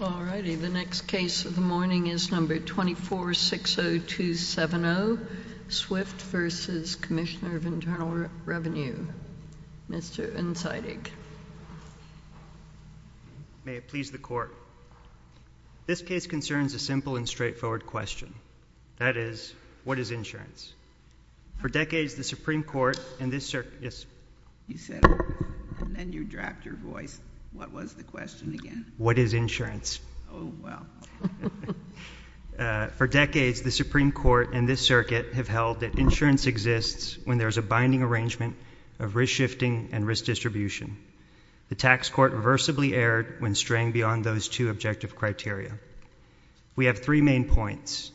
2460270, SWIFT v. Commissioner of Internal Revenue, Mr. Insightig. May it please the Court. This case concerns a simple and straightforward question. That is, what is insurance? For decades, the Supreme Court and this circuit— Yes? You said it, and then you dropped your voice. What was the question again? What is insurance? Oh, wow. For decades, the Supreme Court and this circuit have held that insurance exists when there is a binding arrangement of risk shifting and risk distribution. The tax court reversibly erred when straying beyond those two objective criteria. We have three main points.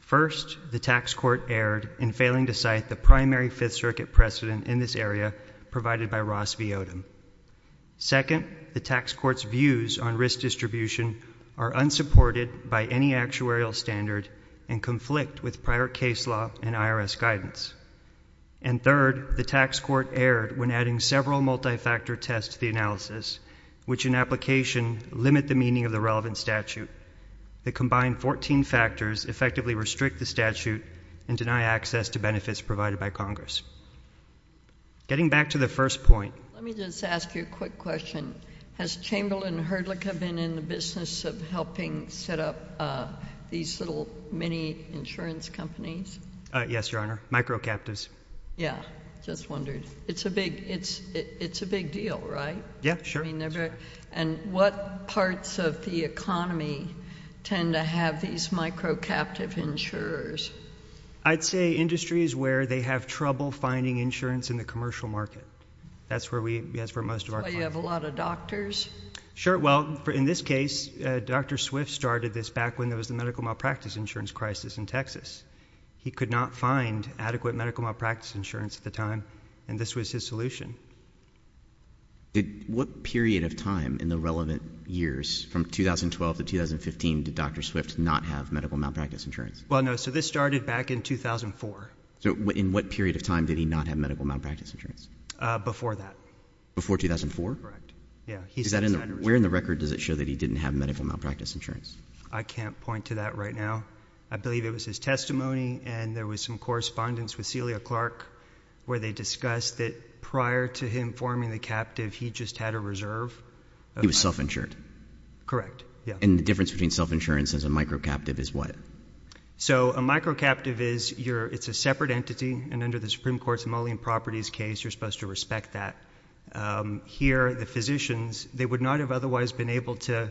First, the tax court erred in failing to cite the primary Fifth Circuit precedent in this area provided by Ross v. Odom. Second, the tax court's views on risk distribution are unsupported by any actuarial standard and conflict with prior case law and IRS guidance. And third, the tax court erred when adding several multi-factor tests to the analysis, which in application limit the meaning of the relevant statute. The combined 14 factors effectively restrict the statute and deny access to benefits provided by Congress. Getting back to the first point— Let me just ask you a quick question. Has Chamberlain Hurdlick been in the business of helping set up these little mini-insurance companies? Yes, Your Honor. Microcaptives. Yeah. Just wondered. It's a big deal, right? Yeah. Sure. And what parts of the economy tend to have these microcaptive insurers? I'd say industries where they have trouble finding insurance in the commercial market. That's where we—that's where most of our clients— So you have a lot of doctors? Sure. Well, in this case, Dr. Swift started this back when there was the medical malpractice insurance crisis in Texas. He could not find adequate medical malpractice insurance at the time, and this was his solution. What period of time in the relevant years from 2012 to 2015 did Dr. Swift not have medical malpractice insurance? Well, no. So this started back in 2004. So in what period of time did he not have medical malpractice insurance? Before that. Before 2004? Correct. Yeah. Where in the record does it show that he didn't have medical malpractice insurance? I can't point to that right now. I believe it was his testimony, and there was some correspondence with Celia Clark where they discussed that prior to him forming the captive, he just had a reserve. He was self-insured. Correct. Yeah. And the difference between self-insurance and a micro-captive is what? So a micro-captive is, it's a separate entity, and under the Supreme Court's Mullian Properties case you're supposed to respect that. Here, the physicians, they would not have otherwise been able to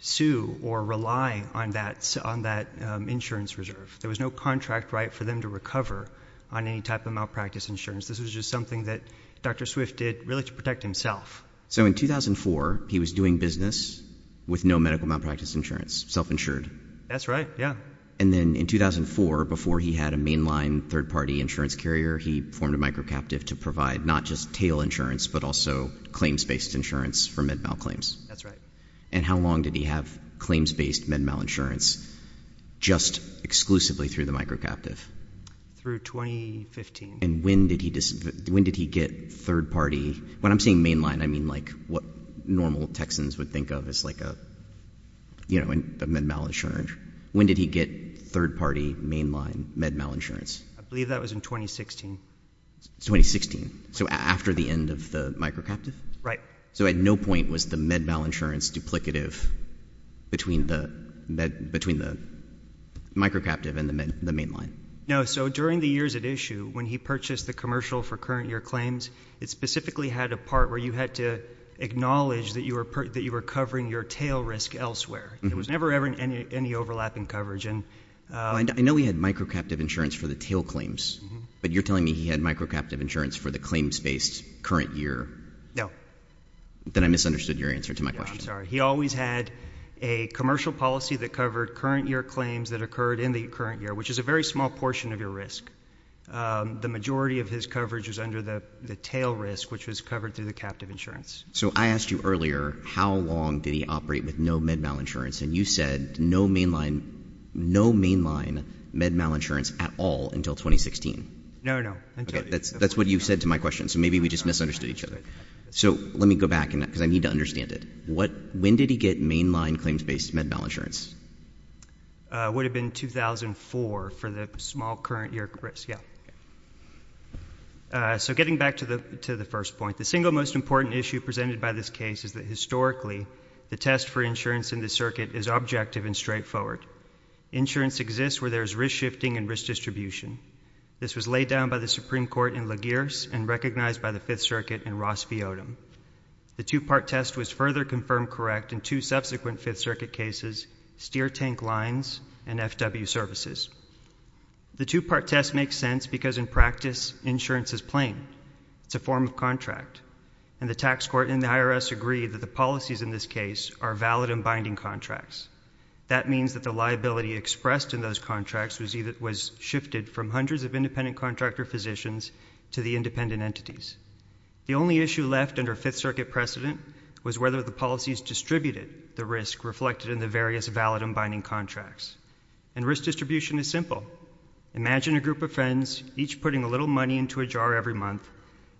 sue or rely on that insurance reserve. There was no contract right for them to recover on any type of malpractice insurance. This was just something that Dr. Swift did really to protect himself. So in 2004, he was doing business with no medical malpractice insurance, self-insured? That's right. Yeah. And then in 2004, before he had a mainline third-party insurance carrier, he formed a micro-captive to provide not just tail insurance, but also claims-based insurance for med-mal claims. That's right. And how long did he have claims-based med-mal insurance just exclusively through the micro-captive? Through 2015. And when did he get third-party? When I'm saying mainline, I mean like what normal Texans would think of as like a, you know, a med-mal insurance. When did he get third-party mainline med-mal insurance? I believe that was in 2016. 2016. So after the end of the micro-captive? Right. So at no point was the med-mal insurance duplicative between the micro-captive and the mainline? No. So during the years at issue, when he purchased the commercial for current year claims, it specifically had a part where you had to acknowledge that you were covering your tail risk elsewhere. There was never, ever any overlapping coverage. I know he had micro-captive insurance for the tail claims, but you're telling me he had micro-captive insurance for the claims-based current year? No. Then I misunderstood your answer to my question. I'm sorry. He always had a commercial policy that covered current year claims that occurred in the current year, which is a very small portion of your risk. The majority of his coverage was under the tail risk, which was covered through the captive insurance. So I asked you earlier, how long did he operate with no med-mal insurance? And you said no mainline med-mal insurance at all until 2016. No, no. Okay. That's what you said to my question. So maybe we just misunderstood each other. So let me go back, because I need to understand it. When did he get mainline claims-based med-mal insurance? It would have been 2004 for the small current year risk, yeah. So getting back to the first point. The single most important issue presented by this case is that historically, the test for insurance in this circuit is objective and straightforward. Insurance exists where there is risk shifting and risk distribution. This was laid down by the Supreme Court in LaGearce and recognized by the Fifth Circuit in Ross V. Odom. The two-part test was further confirmed correct in two subsequent Fifth Circuit cases, Steer Tank Lines and FW Services. The two-part test makes sense because in practice, insurance is plain. It's a form of contract. And the tax court and the IRS agree that the policies in this case are valid and binding contracts. That means that the liability expressed in those contracts was shifted from hundreds of independent contractor physicians to the independent entities. The only issue left under Fifth Circuit precedent was whether the policies distributed the risk reflected in the various valid and binding contracts. And risk distribution is simple. Imagine a group of friends, each putting a little money into a jar every month.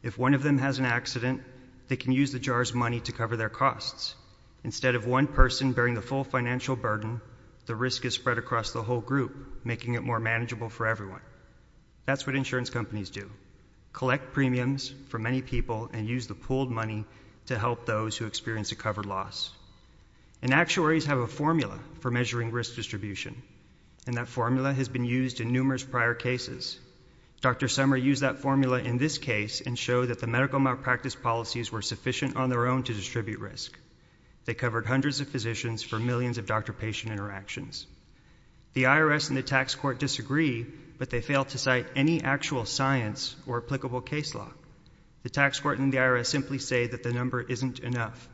If one of them has an accident, they can use the jar's money to cover their costs. Instead of one person bearing the full financial burden, the risk is spread across the whole group, making it more manageable for everyone. That's what insurance companies do. Collect premiums for many people and use the pooled money to help those who experience a covered loss. And actuaries have a formula for measuring risk distribution. And that formula has been used in numerous prior cases. Dr. Summer used that formula in this case and showed that the medical malpractice policies were sufficient on their own to distribute risk. They covered hundreds of physicians for millions of doctor-patient interactions. The IRS and the tax court disagree, but they fail to cite any actual science or applicable case law. The tax court and the IRS simply say that the number isn't enough.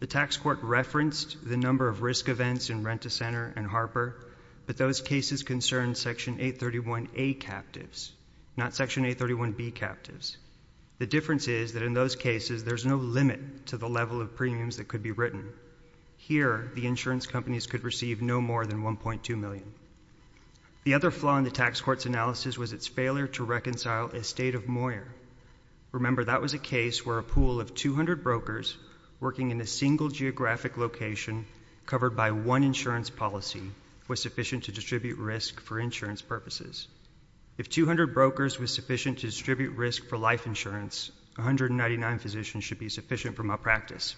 The tax court referenced the number of risk events in Rent-A-Center and Harper, but those cases concern Section 831A captives, not Section 831B captives. The difference is that in those cases, there's no limit to the level of premiums that could be written. Here, the insurance companies could receive no more than $1.2 million. The other flaw in the tax court's analysis was its failure to reconcile a state of moire. Remember, that was a case where a pool of 200 brokers working in a single geographic location covered by one insurance policy was sufficient to distribute risk for insurance purposes. If 200 brokers was sufficient to distribute risk for life insurance, 199 physicians should be sufficient for malpractice.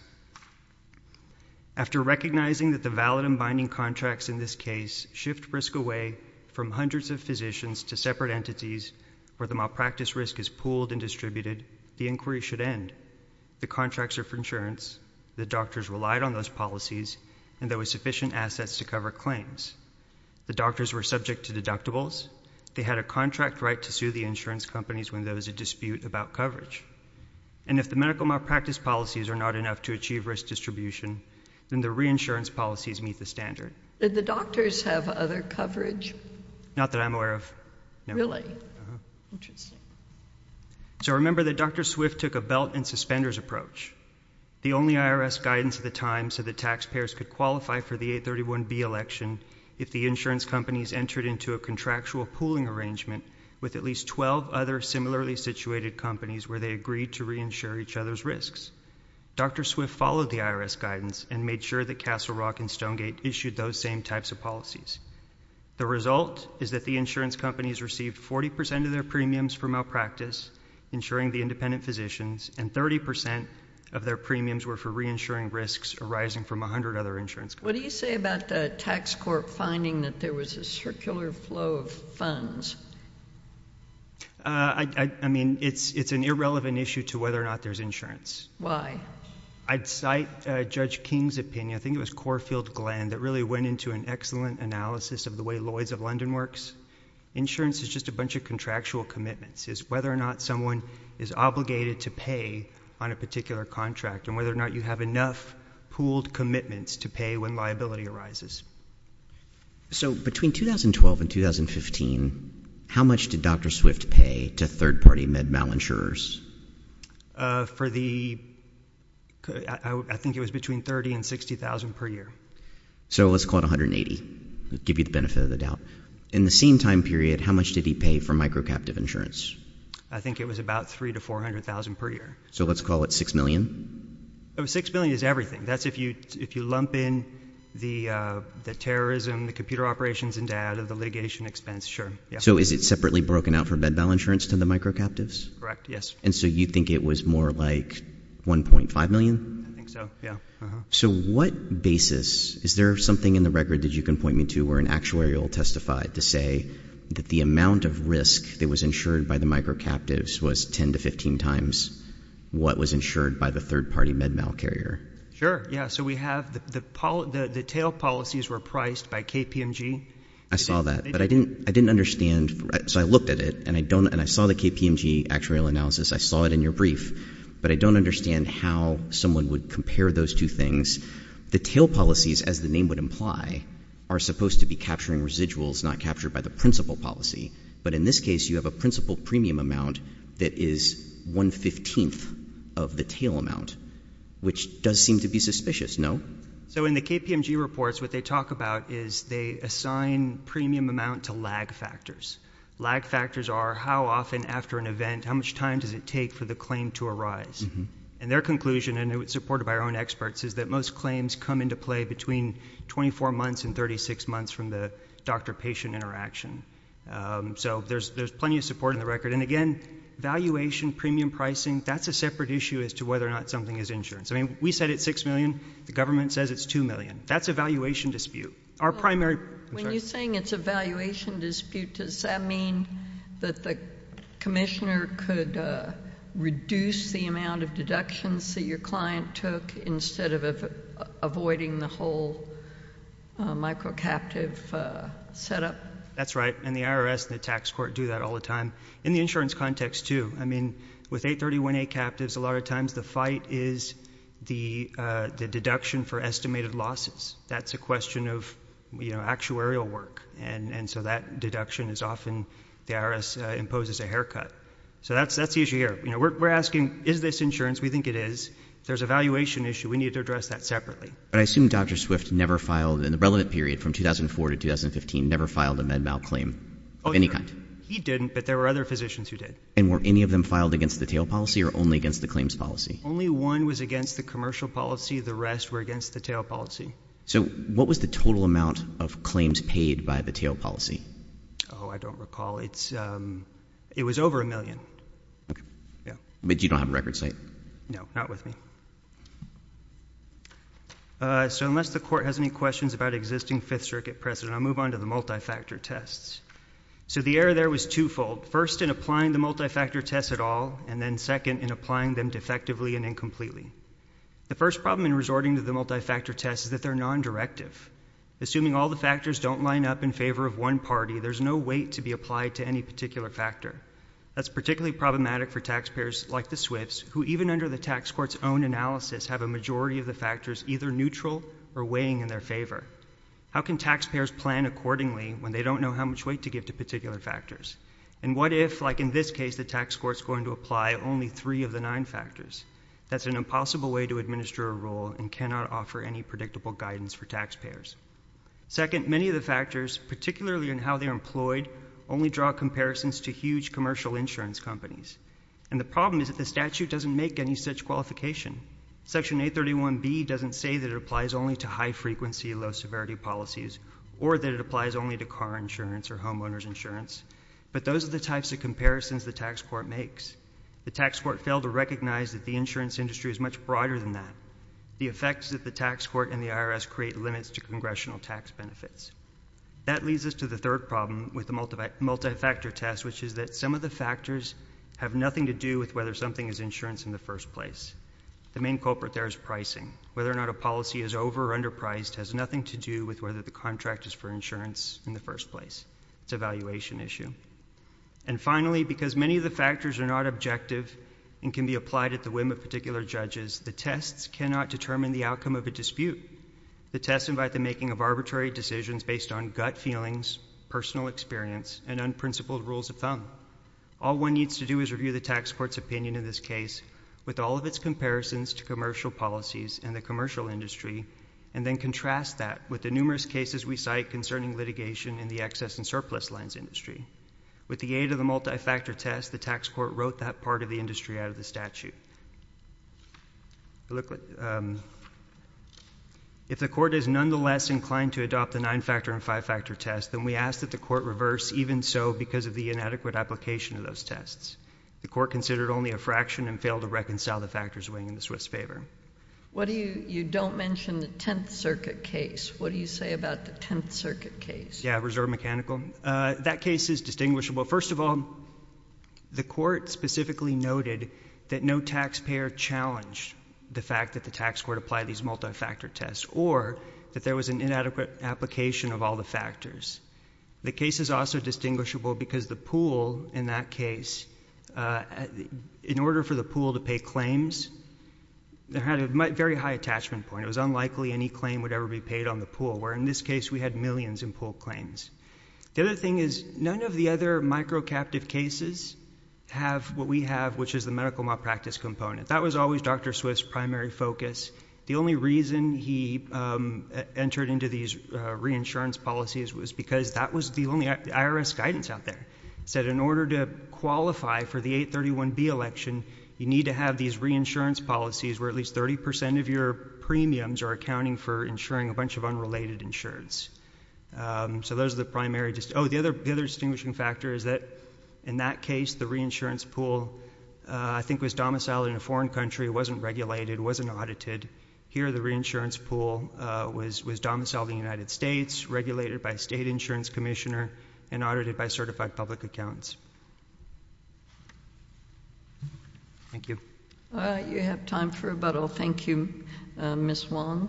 After recognizing that the valid and binding contracts in this case shift risk away from hundreds of physicians to separate entities where the malpractice risk is pooled and distributed, the inquiry should end. The contracts are for insurance, the doctors relied on those policies, and there were sufficient assets to cover claims. The doctors were subject to deductibles, they had a contract right to sue the insurance companies when there was a dispute about coverage. And if the medical malpractice policies are not enough to achieve risk distribution, then the reinsurance policies meet the standard. Did the doctors have other coverage? Not that I'm aware of. Really? Uh-huh. So remember that Dr. Swift took a belt and suspenders approach. The only IRS guidance at the time said that taxpayers could qualify for the 831B election if the insurance companies entered into a contractual pooling arrangement with at least 12 other similarly situated companies where they agreed to reinsure each other's risks. Dr. Swift followed the IRS guidance and made sure that Castle Rock and Stonegate issued those same types of policies. The result is that the insurance companies received 40% of their premiums for malpractice, insuring the independent physicians, and 30% of their premiums were for reinsuring risks arising from 100 other insurance companies. What do you say about the tax court finding that there was a circular flow of funds? I mean, it's an irrelevant issue to whether or not there's insurance. Why? I'd cite Judge King's opinion, I think it was Corfield Glenn, that really went into an excellent analysis of the way Lloyd's of London works. Insurance is just a bunch of contractual commitments. It's whether or not someone is obligated to pay on a particular contract and whether or not they have enough pooled commitments to pay when liability arises. So between 2012 and 2015, how much did Dr. Swift pay to third-party med malinsurers? For the, I think it was between $30,000 and $60,000 per year. So let's call it $180,000, to give you the benefit of the doubt. In the same time period, how much did he pay for microcaptive insurance? I think it was about $300,000 to $400,000 per year. So let's call it $6 million? Oh, $6 million is everything. That's if you lump in the terrorism, the computer operations and data, the litigation expense, sure. So is it separately broken out for med malinsurance to the microcaptives? Correct. Yes. And so you think it was more like $1.5 million? I think so, yeah. So what basis, is there something in the record that you can point me to where an actuarial testified to say that the amount of risk that was insured by the microcaptives was ten to 15 times what was insured by the third-party med mal carrier? Yeah. So we have the tail policies were priced by KPMG. I saw that, but I didn't understand. So I looked at it, and I saw the KPMG actuarial analysis. I saw it in your brief, but I don't understand how someone would compare those two things. The tail policies, as the name would imply, are supposed to be capturing residuals, not captured by the principal policy. But in this case, you have a principal premium amount that is one-fifteenth of the tail amount, which does seem to be suspicious, no? So in the KPMG reports, what they talk about is they assign premium amount to lag factors. Lag factors are how often after an event, how much time does it take for the claim to And their conclusion, and it was supported by our own experts, is that most claims come into play between 24 months and 36 months from the doctor-patient interaction. So there's plenty of support in the record. And again, valuation, premium pricing, that's a separate issue as to whether or not something is insured. I mean, we said it's six million. The government says it's two million. That's a valuation dispute. Our primary When you're saying it's a valuation dispute, does that mean that the commissioner could reduce the amount of deductions that your client took instead of avoiding the whole micro-captive setup? That's right. And the IRS and the tax court do that all the time. In the insurance context, too. I mean, with 831A captives, a lot of times the fight is the deduction for estimated losses. That's a question of actuarial work. And so that deduction is often, the IRS imposes a haircut. So that's the issue here. You know, we're asking, is this insurance? We think it is. If there's a valuation issue, we need to address that separately. But I assume Dr. Swift never filed, in the relevant period from 2004 to 2015, never filed a MedMal claim of any kind. He didn't, but there were other physicians who did. And were any of them filed against the TAIL policy or only against the claims policy? Only one was against the commercial policy. The rest were against the TAIL policy. So what was the total amount of claims paid by the TAIL policy? Oh, I don't recall. It was over a million. Yeah. But you don't have a record site? No. Not with me. So unless the Court has any questions about existing Fifth Circuit precedent, I'll move on to the multi-factor tests. So the error there was twofold. First in applying the multi-factor tests at all, and then second in applying them defectively and incompletely. The first problem in resorting to the multi-factor tests is that they're non-directive. Assuming all the factors don't line up in favor of one party, there's no weight to be applied to any particular factor. That's particularly problematic for taxpayers like the Swifts, who even under the tax court's own analysis have a majority of the factors either neutral or weighing in their favor. How can taxpayers plan accordingly when they don't know how much weight to give to particular factors? And what if, like in this case, the tax court's going to apply only three of the nine factors? That's an impossible way to administer a rule and cannot offer any predictable guidance for taxpayers. Second, many of the factors, particularly in how they're employed, only draw comparisons to huge commercial insurance companies. And the problem is that the statute doesn't make any such qualification. Section 831B doesn't say that it applies only to high-frequency, low-severity policies, or that it applies only to car insurance or homeowner's insurance, but those are the types of comparisons the tax court makes. The tax court failed to recognize that the insurance industry is much broader than that. The effects of the tax court and the IRS create limits to congressional tax benefits. That leads us to the third problem with the multi-factor test, which is that some of the factors have nothing to do with whether something is insurance in the first place. The main culprit there is pricing. Whether or not a policy is over- or underpriced has nothing to do with whether the contract is for insurance in the first place. It's a valuation issue. And finally, because many of the factors are not objective and can be applied at the whim of particular judges, the tests cannot determine the outcome of a dispute. The tests invite the making of arbitrary decisions based on gut feelings, personal experience, and unprincipled rules of thumb. All one needs to do is review the tax court's opinion in this case, with all of its comparisons to commercial policies and the commercial industry, and then contrast that with the numerous cases we cite concerning litigation in the excess and surplus lines industry. With the aid of the multi-factor test, the tax court wrote that part of the industry out of the statute. If the court is nonetheless inclined to adopt the nine-factor and five-factor test, then we ask that the court reverse, even so because of the inadequate application of those tests. The court considered only a fraction and failed to reconcile the factors weighing in the Swiss favor. What do you- you don't mention the Tenth Circuit case. What do you say about the Tenth Circuit case? Yeah, reserve mechanical. That case is distinguishable. First of all, the court specifically noted that no taxpayer challenged the fact that the tax court applied these multi-factor tests, or that there was an inadequate application of all the factors. The case is also distinguishable because the pool in that case, in order for the pool to pay claims, they had a very high attachment point. It was unlikely any claim would ever be paid on the pool, where in this case we had millions in pool claims. The other thing is, none of the other micro-captive cases have what we have, which is the medical malpractice component. That was always Dr. Swift's primary focus. The only reason he entered into these reinsurance policies was because that was the only IRS guidance out there. It said in order to qualify for the 831B election, you need to have these reinsurance policies where at least 30% of your premiums are accounting for insuring a bunch of unrelated insurance. The other distinguishing factor is that in that case, the reinsurance pool, I think, was domiciled in a foreign country, wasn't regulated, wasn't audited. Here the reinsurance pool was domiciled in the United States, regulated by a state insurance commissioner, and audited by certified public accountants. Thank you. You have time for rebuttal. Thank you, Ms. Wong.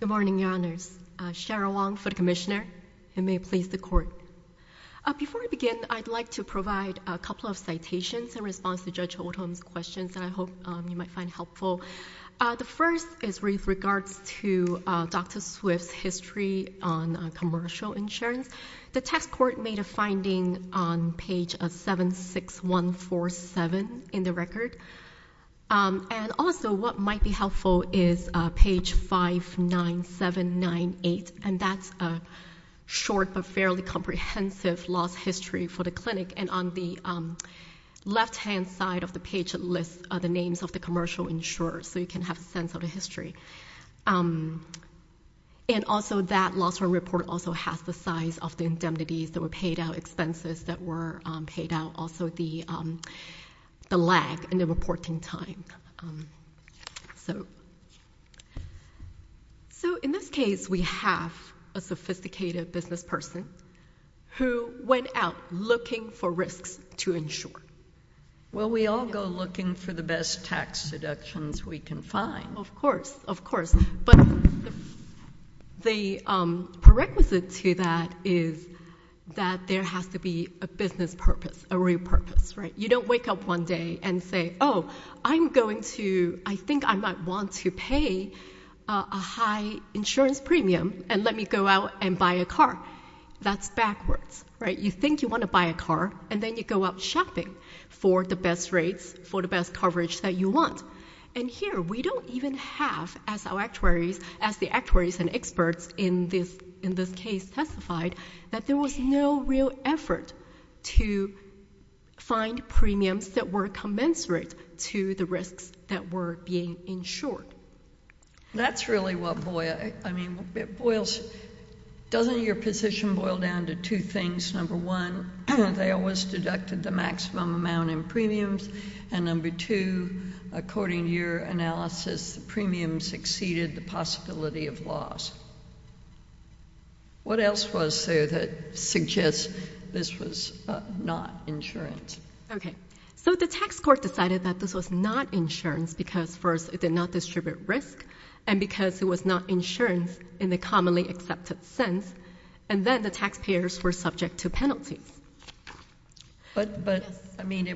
Good morning, Your Honors. Cheryl Wong for the Commissioner, and may it please the Court. Before I begin, I'd like to provide a couple of citations in response to Judge Holtham's questions that I hope you might find helpful. The first is with regards to Dr. Swift's history on commercial insurance. The test court made a finding on page 76147 in the record. And also, what might be helpful is page 59798, and that's a short but fairly comprehensive lost history for the clinic. And on the left-hand side of the page, it lists the names of the commercial insurers, so you can have a sense of the history. And also, that loss report also has the size of the indemnities that were paid out, expenses that were paid out, also the lag in the reporting time. So, in this case, we have a sophisticated business person who went out looking for risks to insure. Well, we all go looking for the best tax deductions we can find. Of course. But the prerequisite to that is that there has to be a business purpose, a real purpose, right? You don't wake up one day and say, oh, I'm going to, I think I might want to pay a high insurance premium and let me go out and buy a car. That's backwards, right? You think you want to buy a car, and then you go out shopping for the best rates, for the best coverage that you want. And here, we don't even have, as our actuaries, as the actuaries and experts in this case testified, that there was no real effort to find premiums that were commensurate to the risks that were being insured. That's really what boils—I mean, it boils—doesn't your position boil down to two things? Number one, they always deducted the maximum amount in premiums, and number two, according to your analysis, the premiums exceeded the possibility of loss. What else was there that suggests this was not insurance? Okay. So the tax court decided that this was not insurance because, first, it did not distribute risk and because it was not insurance in the commonly accepted sense, and then the taxpayers were subject to penalties. But, I mean,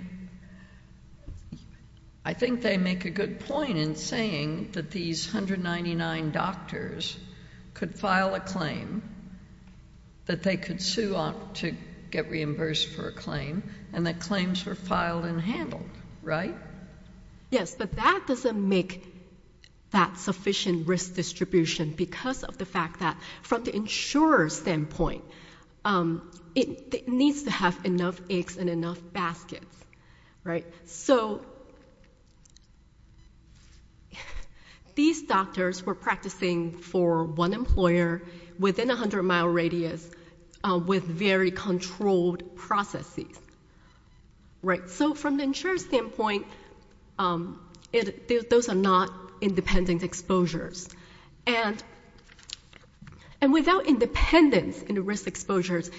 I think they make a good point in saying that these 199 doctors could file a claim, that they could sue to get reimbursed for a claim, and that claims were filed and handled, right? Yes, but that doesn't make that sufficient risk distribution because of the fact that, from the insurer's standpoint, it needs to have enough eggs and enough baskets, right? So these doctors were practicing for one employer within a 100-mile radius with very controlled processes, right? So from the insurer's standpoint, those are not independent exposures. And without independence in the risk exposures,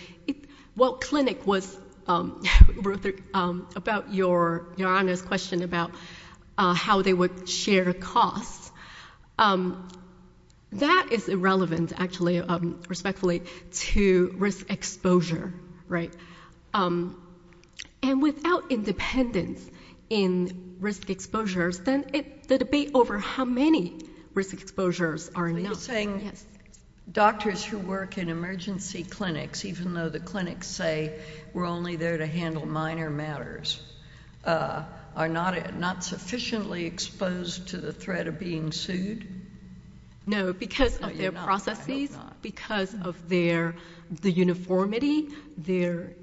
while clinic was about your honest question about how they would share costs, that is irrelevant, actually, respectfully, to risk exposure, right? And without independence in risk exposures, then the debate over how many risk exposures are enough. Are you saying doctors who work in emergency clinics, even though the clinics say we're only there to handle minor matters, are not sufficiently exposed to the threat of being sued? No, because of their processes. Because of their—the uniformity, their—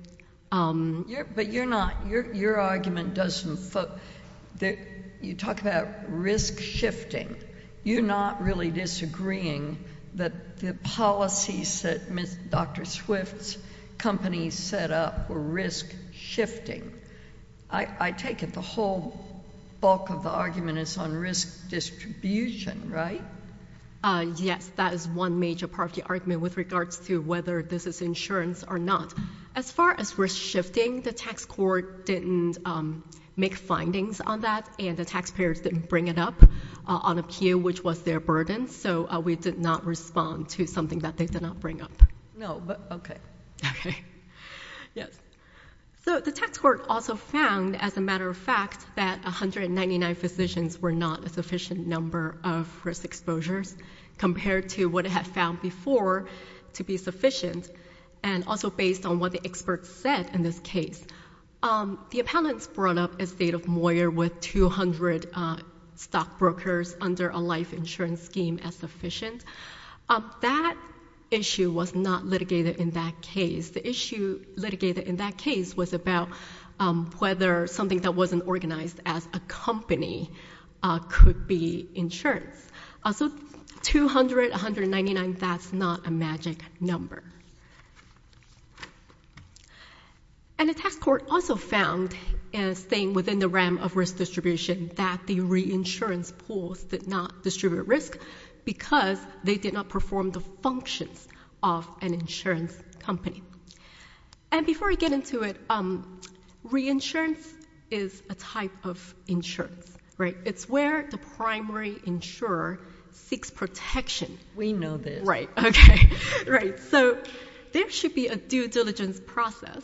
But you're not—your argument doesn't—you talk about risk shifting. You're not really disagreeing that the policies that Dr. Swift's company set up were risk shifting. I take it the whole bulk of the argument is on risk distribution, right? Yes, that is one major part of the argument with regards to whether this is insurance or not. As far as risk shifting, the tax court didn't make findings on that, and the taxpayers didn't bring it up on a pew, which was their burden, so we did not respond to something that they did not bring up. No, but—okay. Okay. Yes. So the tax court also found, as a matter of fact, that 199 physicians were not a sufficient number of risk exposures compared to what it had found before to be sufficient, and also based on what the experts said in this case. The appellants brought up a state of Moyer with 200 stockbrokers under a life insurance scheme as sufficient. That issue was not litigated in that case. The issue litigated in that case was about whether something that wasn't organized as a company could be insurance. So 200, 199, that's not a magic number. And the tax court also found, staying within the realm of risk distribution, that the reinsurance pools did not distribute risk because they did not perform the functions of an insurance company. And before I get into it, reinsurance is a type of insurance, right? It's where the primary insurer seeks protection. We know this. Right. Okay. Right. So there should be a due diligence process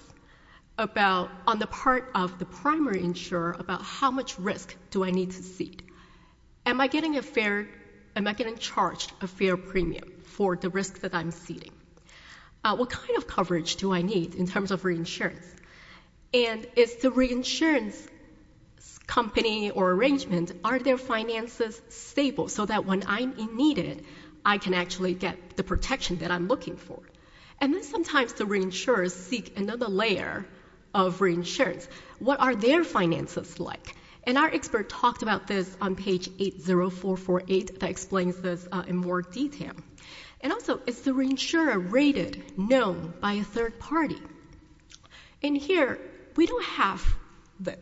about—on the part of the primary insurer about how much risk do I need to cede? Am I getting a fair—am I getting charged a fair premium for the risk that I'm ceding? What kind of coverage do I need in terms of reinsurance? And is the reinsurance company or arrangement, are their finances stable so that when I'm in need of it, I can actually get the protection that I'm looking for? And then sometimes the reinsurers seek another layer of reinsurance. What are their finances like? And our expert talked about this on page 80448 that explains this in more detail. And also, is the reinsurer rated, known by a third party? In here, we don't have this,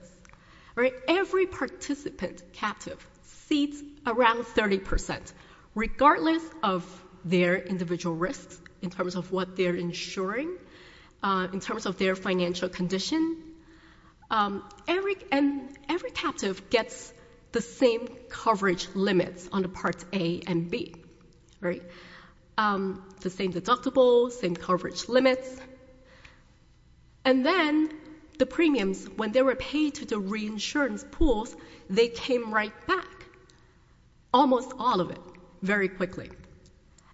right? Every participant captive cedes around 30% regardless of their individual risks in terms of what they're insuring, in terms of their financial condition. And every captive gets the same coverage limits on the Parts A and B, right? The same deductibles, same coverage limits. And then the premiums, when they were paid to the reinsurance pools, they came right back, almost all of it, very quickly.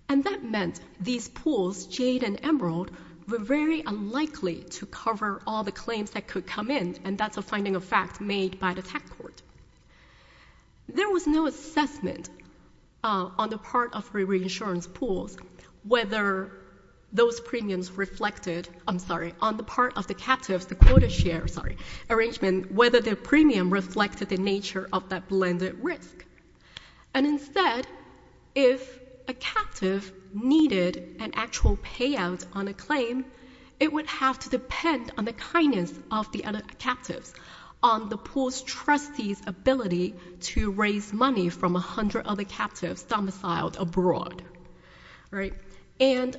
And that meant these pools, Jade and Emerald, were very unlikely to cover all the claims that could come in, and that's a finding of fact made by the tech court. There was no assessment on the part of the reinsurance pools whether those premiums reflected—I'm sorry, on the part of the captives, the quota share, sorry, arrangement, whether their premium reflected the nature of that blended risk. And instead, if a captive needed an actual payout on a claim, it would have to depend on the kindness of the other captives, on the pool's trustee's ability to raise money from 100 other captives domiciled abroad, right? And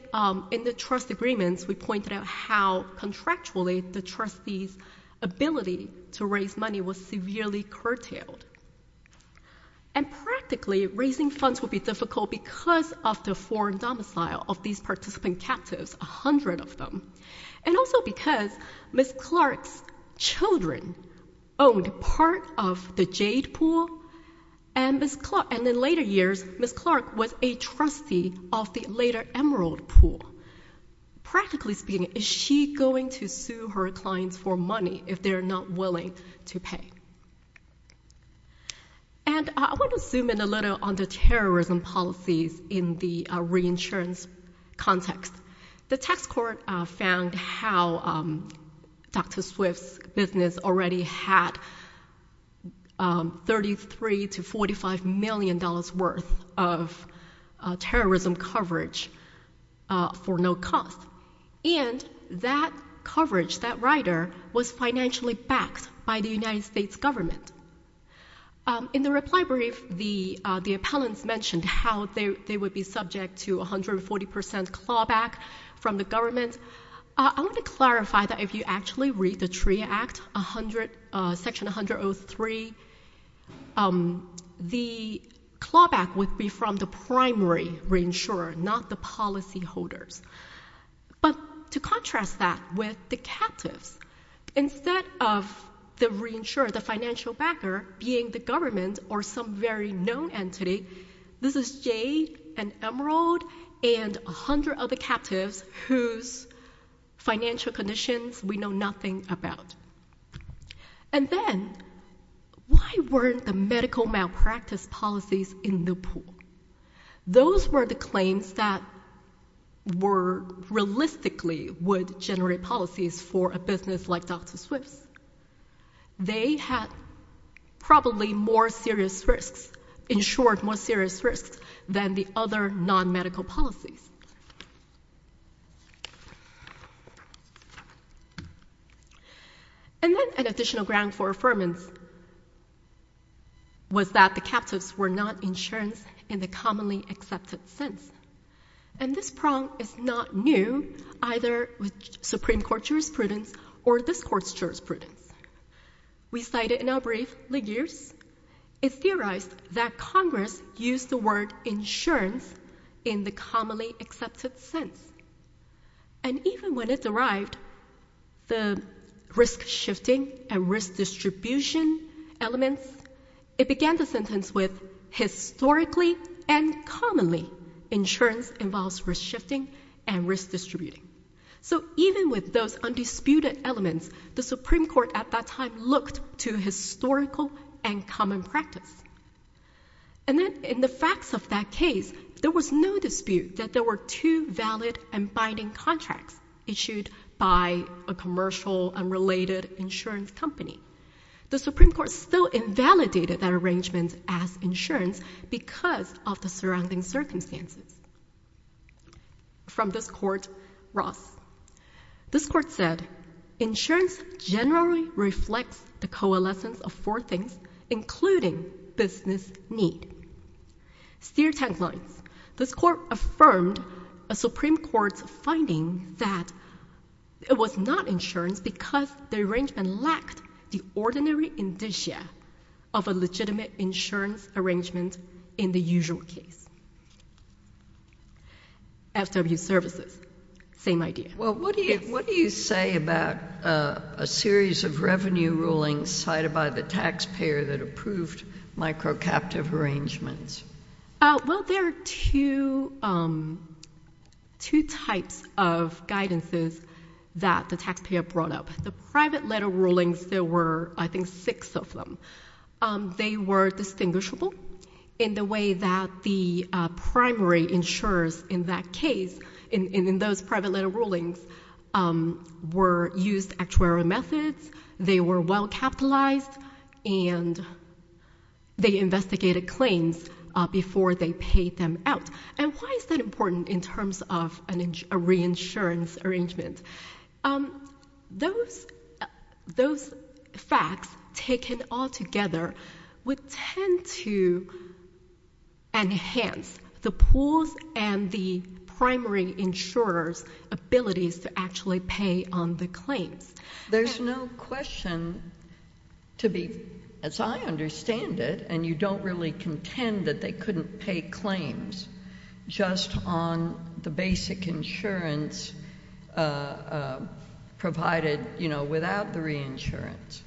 in the trust agreements, we pointed out how contractually the trustee's ability to raise money was severely curtailed. And practically, raising funds would be difficult because of the foreign domicile of these participant captives, 100 of them. And also because Ms. Clark's children owned part of the Jade pool, and in later years, Ms. Clark was a trustee of the later Emerald pool. Practically speaking, is she going to sue her clients for money if they're not willing to pay? And I want to zoom in a little on the terrorism policies in the reinsurance context. The tax court found how Dr. Swift's business already had $33 to $45 million worth of terrorism coverage for no cost, and that coverage, that rider, was financially backed by the United States government. In the reply brief, the appellants mentioned how they would be subject to 140% clawback from the government. I want to clarify that if you actually read the TRIA Act, Section 103, the clawback would be from the primary reinsurer, not the policyholders. But to contrast that with the captives, instead of the reinsurer, the financial backer, being the government or some very known entity, this is Jade and Emerald and 100 other captives whose financial conditions we know nothing about. And then, why weren't the medical malpractice policies in the pool? Those were the claims that were realistically would generate policies for a business like Dr. Swift's. They had probably more serious risks, insured more serious risks, than the other non-medical policies. And then, an additional ground for affirmance was that the captives were not insured in the commonly accepted sense. And this prong is not new, either with Supreme Court jurisprudence or this court's jurisprudence. We cited in our brief, Ligures, it's theorized that Congress used the word insurance in the commonly accepted sense. And even when it derived the risk-shifting and risk-distribution elements, it began the sentence with, historically and commonly, insurance involves risk-shifting and risk-distributing. So even with those undisputed elements, the Supreme Court at that time looked to historical and common practice. And then, in the facts of that case, there was no dispute that there were two valid and binding contracts issued by a commercial and related insurance company. The Supreme Court still invalidated that arrangement as insurance because of the surrounding circumstances. From this court, Ross. This court said, insurance generally reflects the coalescence of four things, including business need. Steer tank lines. This court affirmed a Supreme Court's finding that it was not insurance because the arrangement lacked the ordinary indicia of a legitimate insurance arrangement in the usual case. FW services. Same idea. Well, what do you say about a series of revenue rulings cited by the taxpayer that approved micro-captive arrangements? Well, there are two types of guidances that the taxpayer brought up. The private letter rulings, there were, I think, six of them. They were distinguishable in the way that the primary insurers in that case, in those private letter rulings, used actuarial methods, they were well-capitalized, and they investigated claims before they paid them out. And why is that important in terms of a reinsurance arrangement? Those facts, taken all together, would tend to enhance the pools and the primary insurers' abilities to actually pay on the claims. There's no question to be, as I understand it, and you don't really contend that they would pay claims just on the basic insurance provided, you know, without the reinsurance.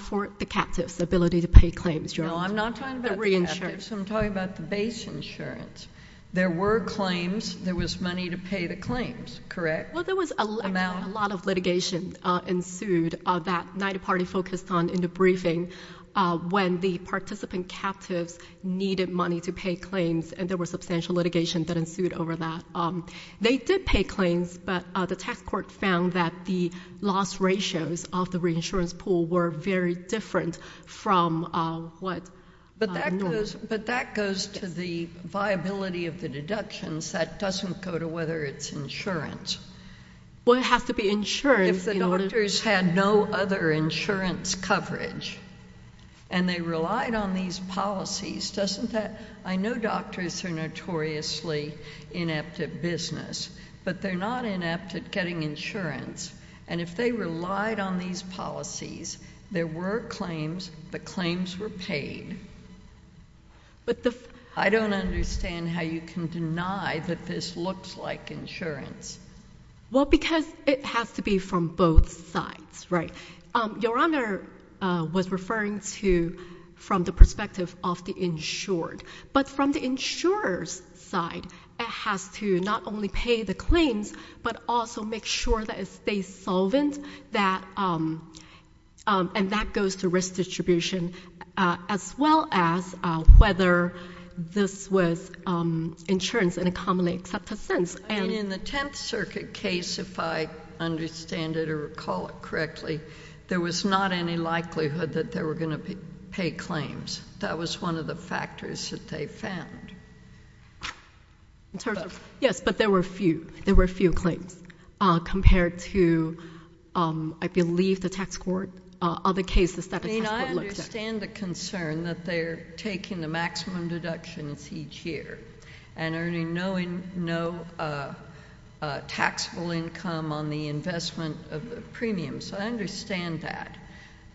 For the captives, the ability to pay claims. No, I'm not talking about the captives. I'm talking about the base insurance. There were claims. There was money to pay the claims, correct? Well, there was a lot of litigation ensued that NIDA Party focused on in the briefing when the participant captives needed money to pay claims, and there was substantial litigation that ensued over that. They did pay claims, but the tax court found that the loss ratios of the reinsurance pool were very different from what— But that goes to the viability of the deductions. That doesn't go to whether it's insurance. Well, it has to be insurance— If the doctors had no other insurance coverage and they relied on these policies, doesn't that—I know doctors are notoriously inept at business, but they're not inept at getting insurance, and if they relied on these policies, there were claims, but claims were paid. But the— I don't understand how you can deny that this looks like insurance. Well, because it has to be from both sides, right? Your Honor was referring to from the perspective of the insured, but from the insurer's side, it has to not only pay the claims, but also make sure that it stays solvent, and that goes to risk distribution, as well as whether this was insurance in a commonly accepted sense. I mean, in the Tenth Circuit case, if I understand it or recall it correctly, there was not any likelihood that they were going to pay claims. That was one of the factors that they found. In terms of— Yes, but there were a few. There were a few claims, compared to, I believe, the tax court. Other cases that the tax court looked at. I mean, I understand the concern that they're taking the maximum deductions each year and earning no taxable income on the investment of premiums. I understand that.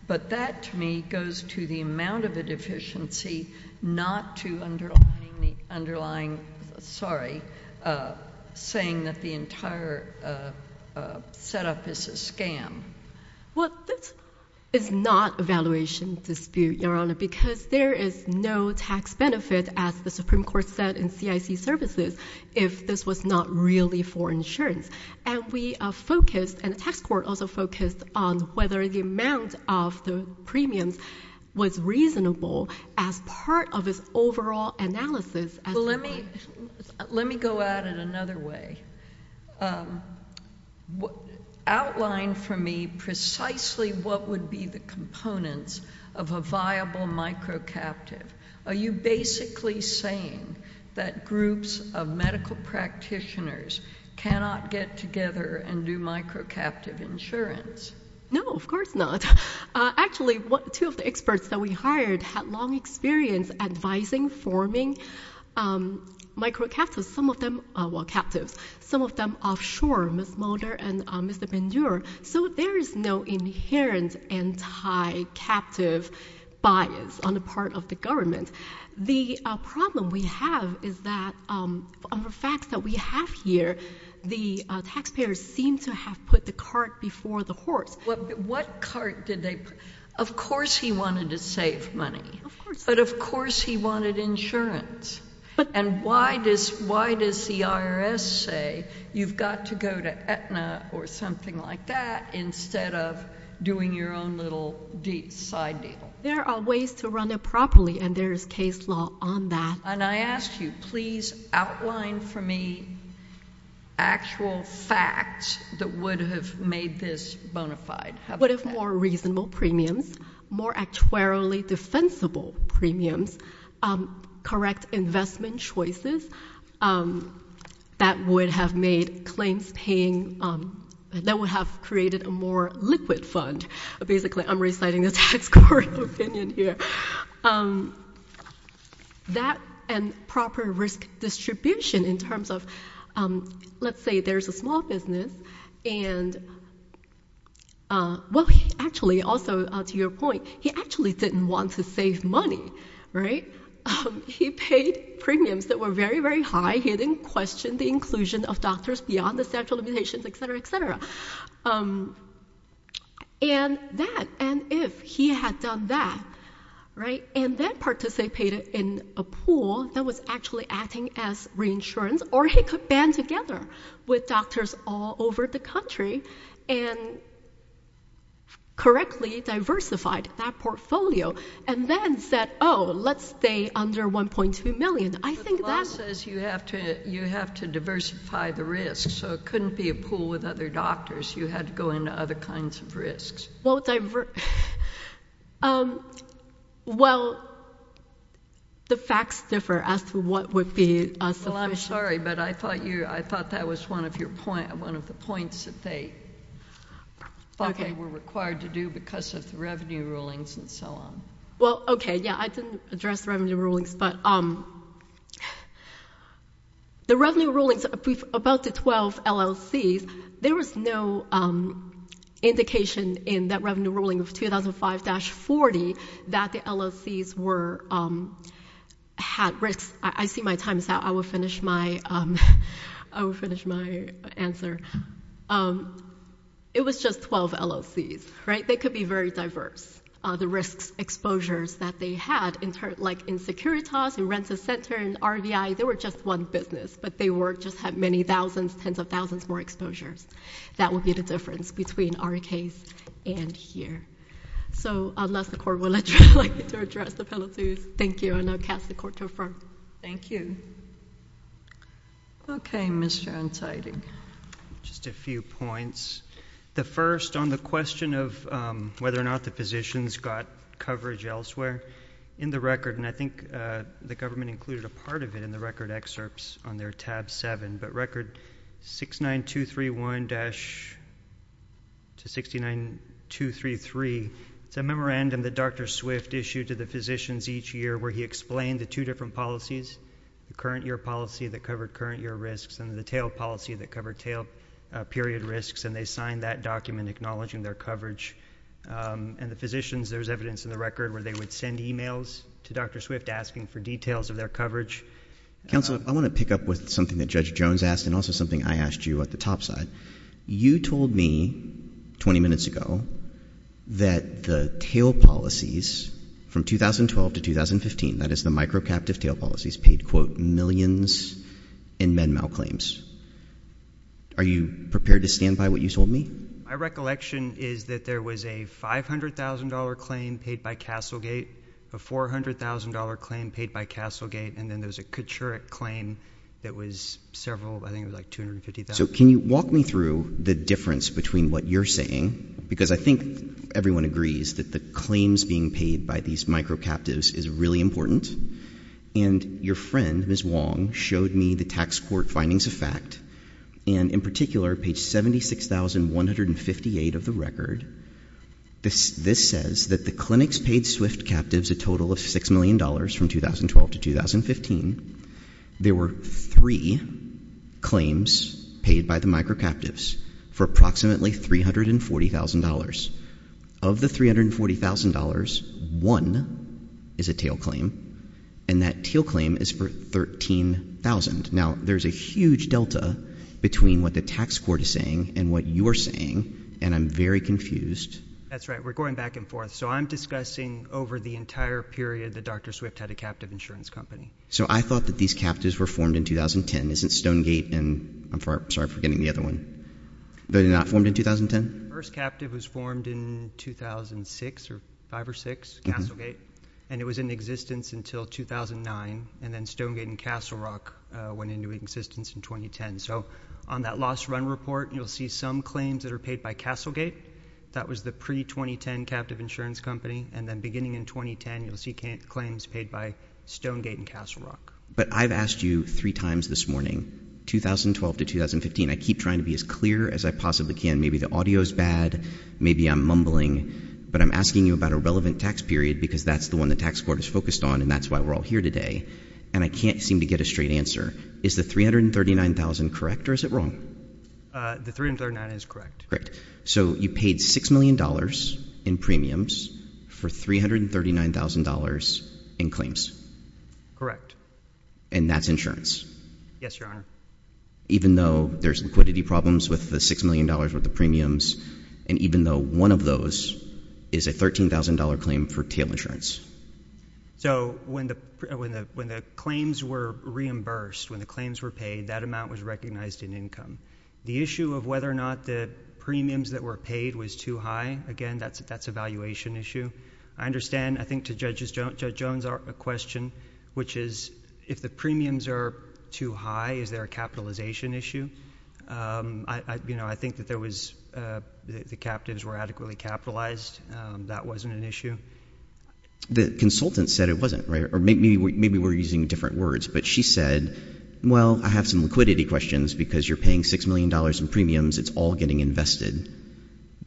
But that, to me, goes to the amount of a deficiency, not to underlining the underlying—sorry, saying that the entire setup is a scam. Well, this is not a valuation dispute, Your Honor, because there is no tax benefit, as the Supreme Court said in CIC services, if this was not really for insurance. And we focused, and the tax court also focused, on whether the amount of the premiums was reasonable as part of its overall analysis as— Well, let me go at it another way. Outline for me precisely what would be the components of a viable microcaptive. Are you basically saying that groups of medical practitioners cannot get together and do microcaptive insurance? No, of course not. Actually, two of the experts that we hired had long experience advising, forming microcaptives, some of them—well, captives—some of them offshore, Ms. Mulder and Mr. Bendure. So there is no inherent anti-captive bias on the part of the government. The problem we have is that, of the facts that we have here, the taxpayers seem to have put the cart before the horse. What cart did they—of course he wanted to save money, but of course he wanted insurance. And why does the IRS say you've got to go to Aetna or something like that instead of doing your own little deep side deal? There are ways to run it properly, and there is case law on that. And I ask you, please outline for me actual facts that would have made this bona fide. What if more reasonable premiums, more actuarially defensible premiums, correct investment choices that would have made claims paying—that would have created a more liquid fund? Basically, I'm reciting the tax court opinion here. That and proper risk distribution in terms of, let's say there's a small business and— well, actually, also to your point, he actually didn't want to save money, right? He paid premiums that were very, very high. He didn't question the inclusion of doctors beyond the statute of limitations, etc., etc. And that, and if he had done that, right, and then participated in a pool that was actually acting as reinsurance, or he could band together with doctors all over the country and correctly diversified that portfolio and then said, oh, let's stay under $1.2 million. I think that— You have to diversify the risk, so it couldn't be a pool with other doctors. You had to go into other kinds of risks. Well, divers— Well, the facts differ as to what would be sufficient. Well, I'm sorry, but I thought that was one of the points that they thought they were required to do because of the revenue rulings and so on. Well, okay, yeah, I didn't address revenue rulings, but the revenue rulings about the 12 LLCs, there was no indication in that revenue ruling of 2005-40 that the LLCs had risks. I see my time is out. I will finish my answer. It was just 12 LLCs, right? They could be very diverse, the risks, exposures that they had, like in Securitas, in Rent-a-Center, in RVI. They were just one business, but they just had many thousands, tens of thousands more exposures. That would be the difference between our case and here. So unless the Court would like to address the penalties, thank you, and I'll cast the Court to affirm. Thank you. Okay, Mr. Ansari. Just a few points. The first, on the question of whether or not the physicians got coverage elsewhere, in the record, and I think the government included a part of it in the record excerpts on their tab 7, but record 69231-69233, it's a memorandum that Dr. Swift issued to the physicians each year where he explained the two different policies, the current year policy that covered period risks, and they signed that document acknowledging their coverage, and the physicians, there's evidence in the record where they would send emails to Dr. Swift asking for details of their coverage. Counsel, I want to pick up with something that Judge Jones asked and also something I asked you at the top side. You told me 20 minutes ago that the tail policies from 2012 to 2015, that is the microcaptive tail policies, paid, quote, millions in men malclaims. Are you prepared to stand by what you told me? My recollection is that there was a $500,000 claim paid by Castlegate, a $400,000 claim paid by Castlegate, and then there was a Kachurik claim that was several, I think it was like $250,000. So can you walk me through the difference between what you're saying, because I think everyone agrees that the claims being paid by these microcaptives is really important, and your friend, Ms. Wong, showed me the tax court findings of fact, and in particular, page 76,158 of the record, this says that the clinics paid Swift captives a total of $6 million from 2012 to 2015. There were three claims paid by the microcaptives for approximately $340,000. Of the $340,000, one is a tail claim, and that tail claim is for $13,000. Now there's a huge delta between what the tax court is saying and what you're saying, and I'm very confused. That's right. We're going back and forth. So I'm discussing over the entire period that Dr. Swift had a captive insurance company. So I thought that these captives were formed in 2010. Isn't Stonegate, and I'm sorry for forgetting the other one, they were not formed in 2010? The first captive was formed in 2006, or 5 or 6, Castlegate, and it was in existence until 2009, and then Stonegate and Castle Rock went into existence in 2010. So on that lost run report, you'll see some claims that are paid by Castlegate. That was the pre-2010 captive insurance company, and then beginning in 2010, you'll see claims paid by Stonegate and Castle Rock. But I've asked you three times this morning, 2012 to 2015, I keep trying to be as clear as I possibly can. Maybe the audio is bad, maybe I'm mumbling, but I'm asking you about a relevant tax period because that's the one the tax court is focused on, and that's why we're all here today, and I can't seem to get a straight answer. Is the $339,000 correct, or is it wrong? The $339,000 is correct. Great. So you paid $6 million in premiums for $339,000 in claims? Correct. And that's insurance? Yes, Your Honor. Even though there's liquidity problems with the $6 million worth of premiums, and even though one of those is a $13,000 claim for tail insurance? So when the claims were reimbursed, when the claims were paid, that amount was recognized in income. The issue of whether or not the premiums that were paid was too high, again, that's a valuation issue. I understand, I think to Judge Jones, a question, which is, if the premiums are too high, is there a capitalization issue? I think that the captains were adequately capitalized. That wasn't an issue. The consultant said it wasn't, or maybe we're using different words, but she said, well, I have some liquidity questions because you're paying $6 million in premiums. It's all getting invested.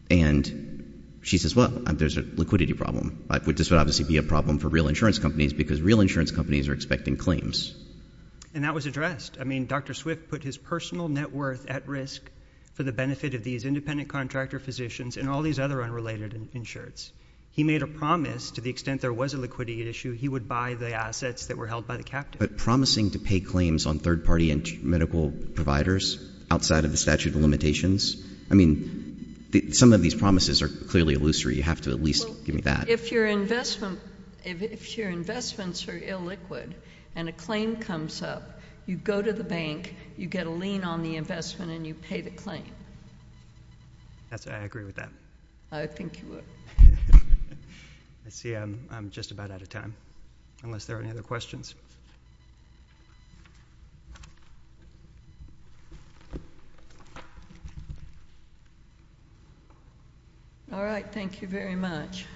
And she says, well, there's a liquidity problem, which would obviously be a problem for real insurance companies because real insurance companies are expecting claims. And that was addressed. I mean, Dr. Swift put his personal net worth at risk for the benefit of these independent contractor physicians and all these other unrelated insurers. He made a promise to the extent there was a liquidity issue, he would buy the assets that were held by the captains. But promising to pay claims on third-party medical providers outside of the statute of limitations, I mean, some of these promises are clearly illusory. You have to at least give me that. If your investments are illiquid and a claim comes up, you go to the bank, you get a lien on the investment, and you pay the claim. I agree with that. I think you would. I see I'm just about out of time, unless there are any other questions. All right. Thank you very much.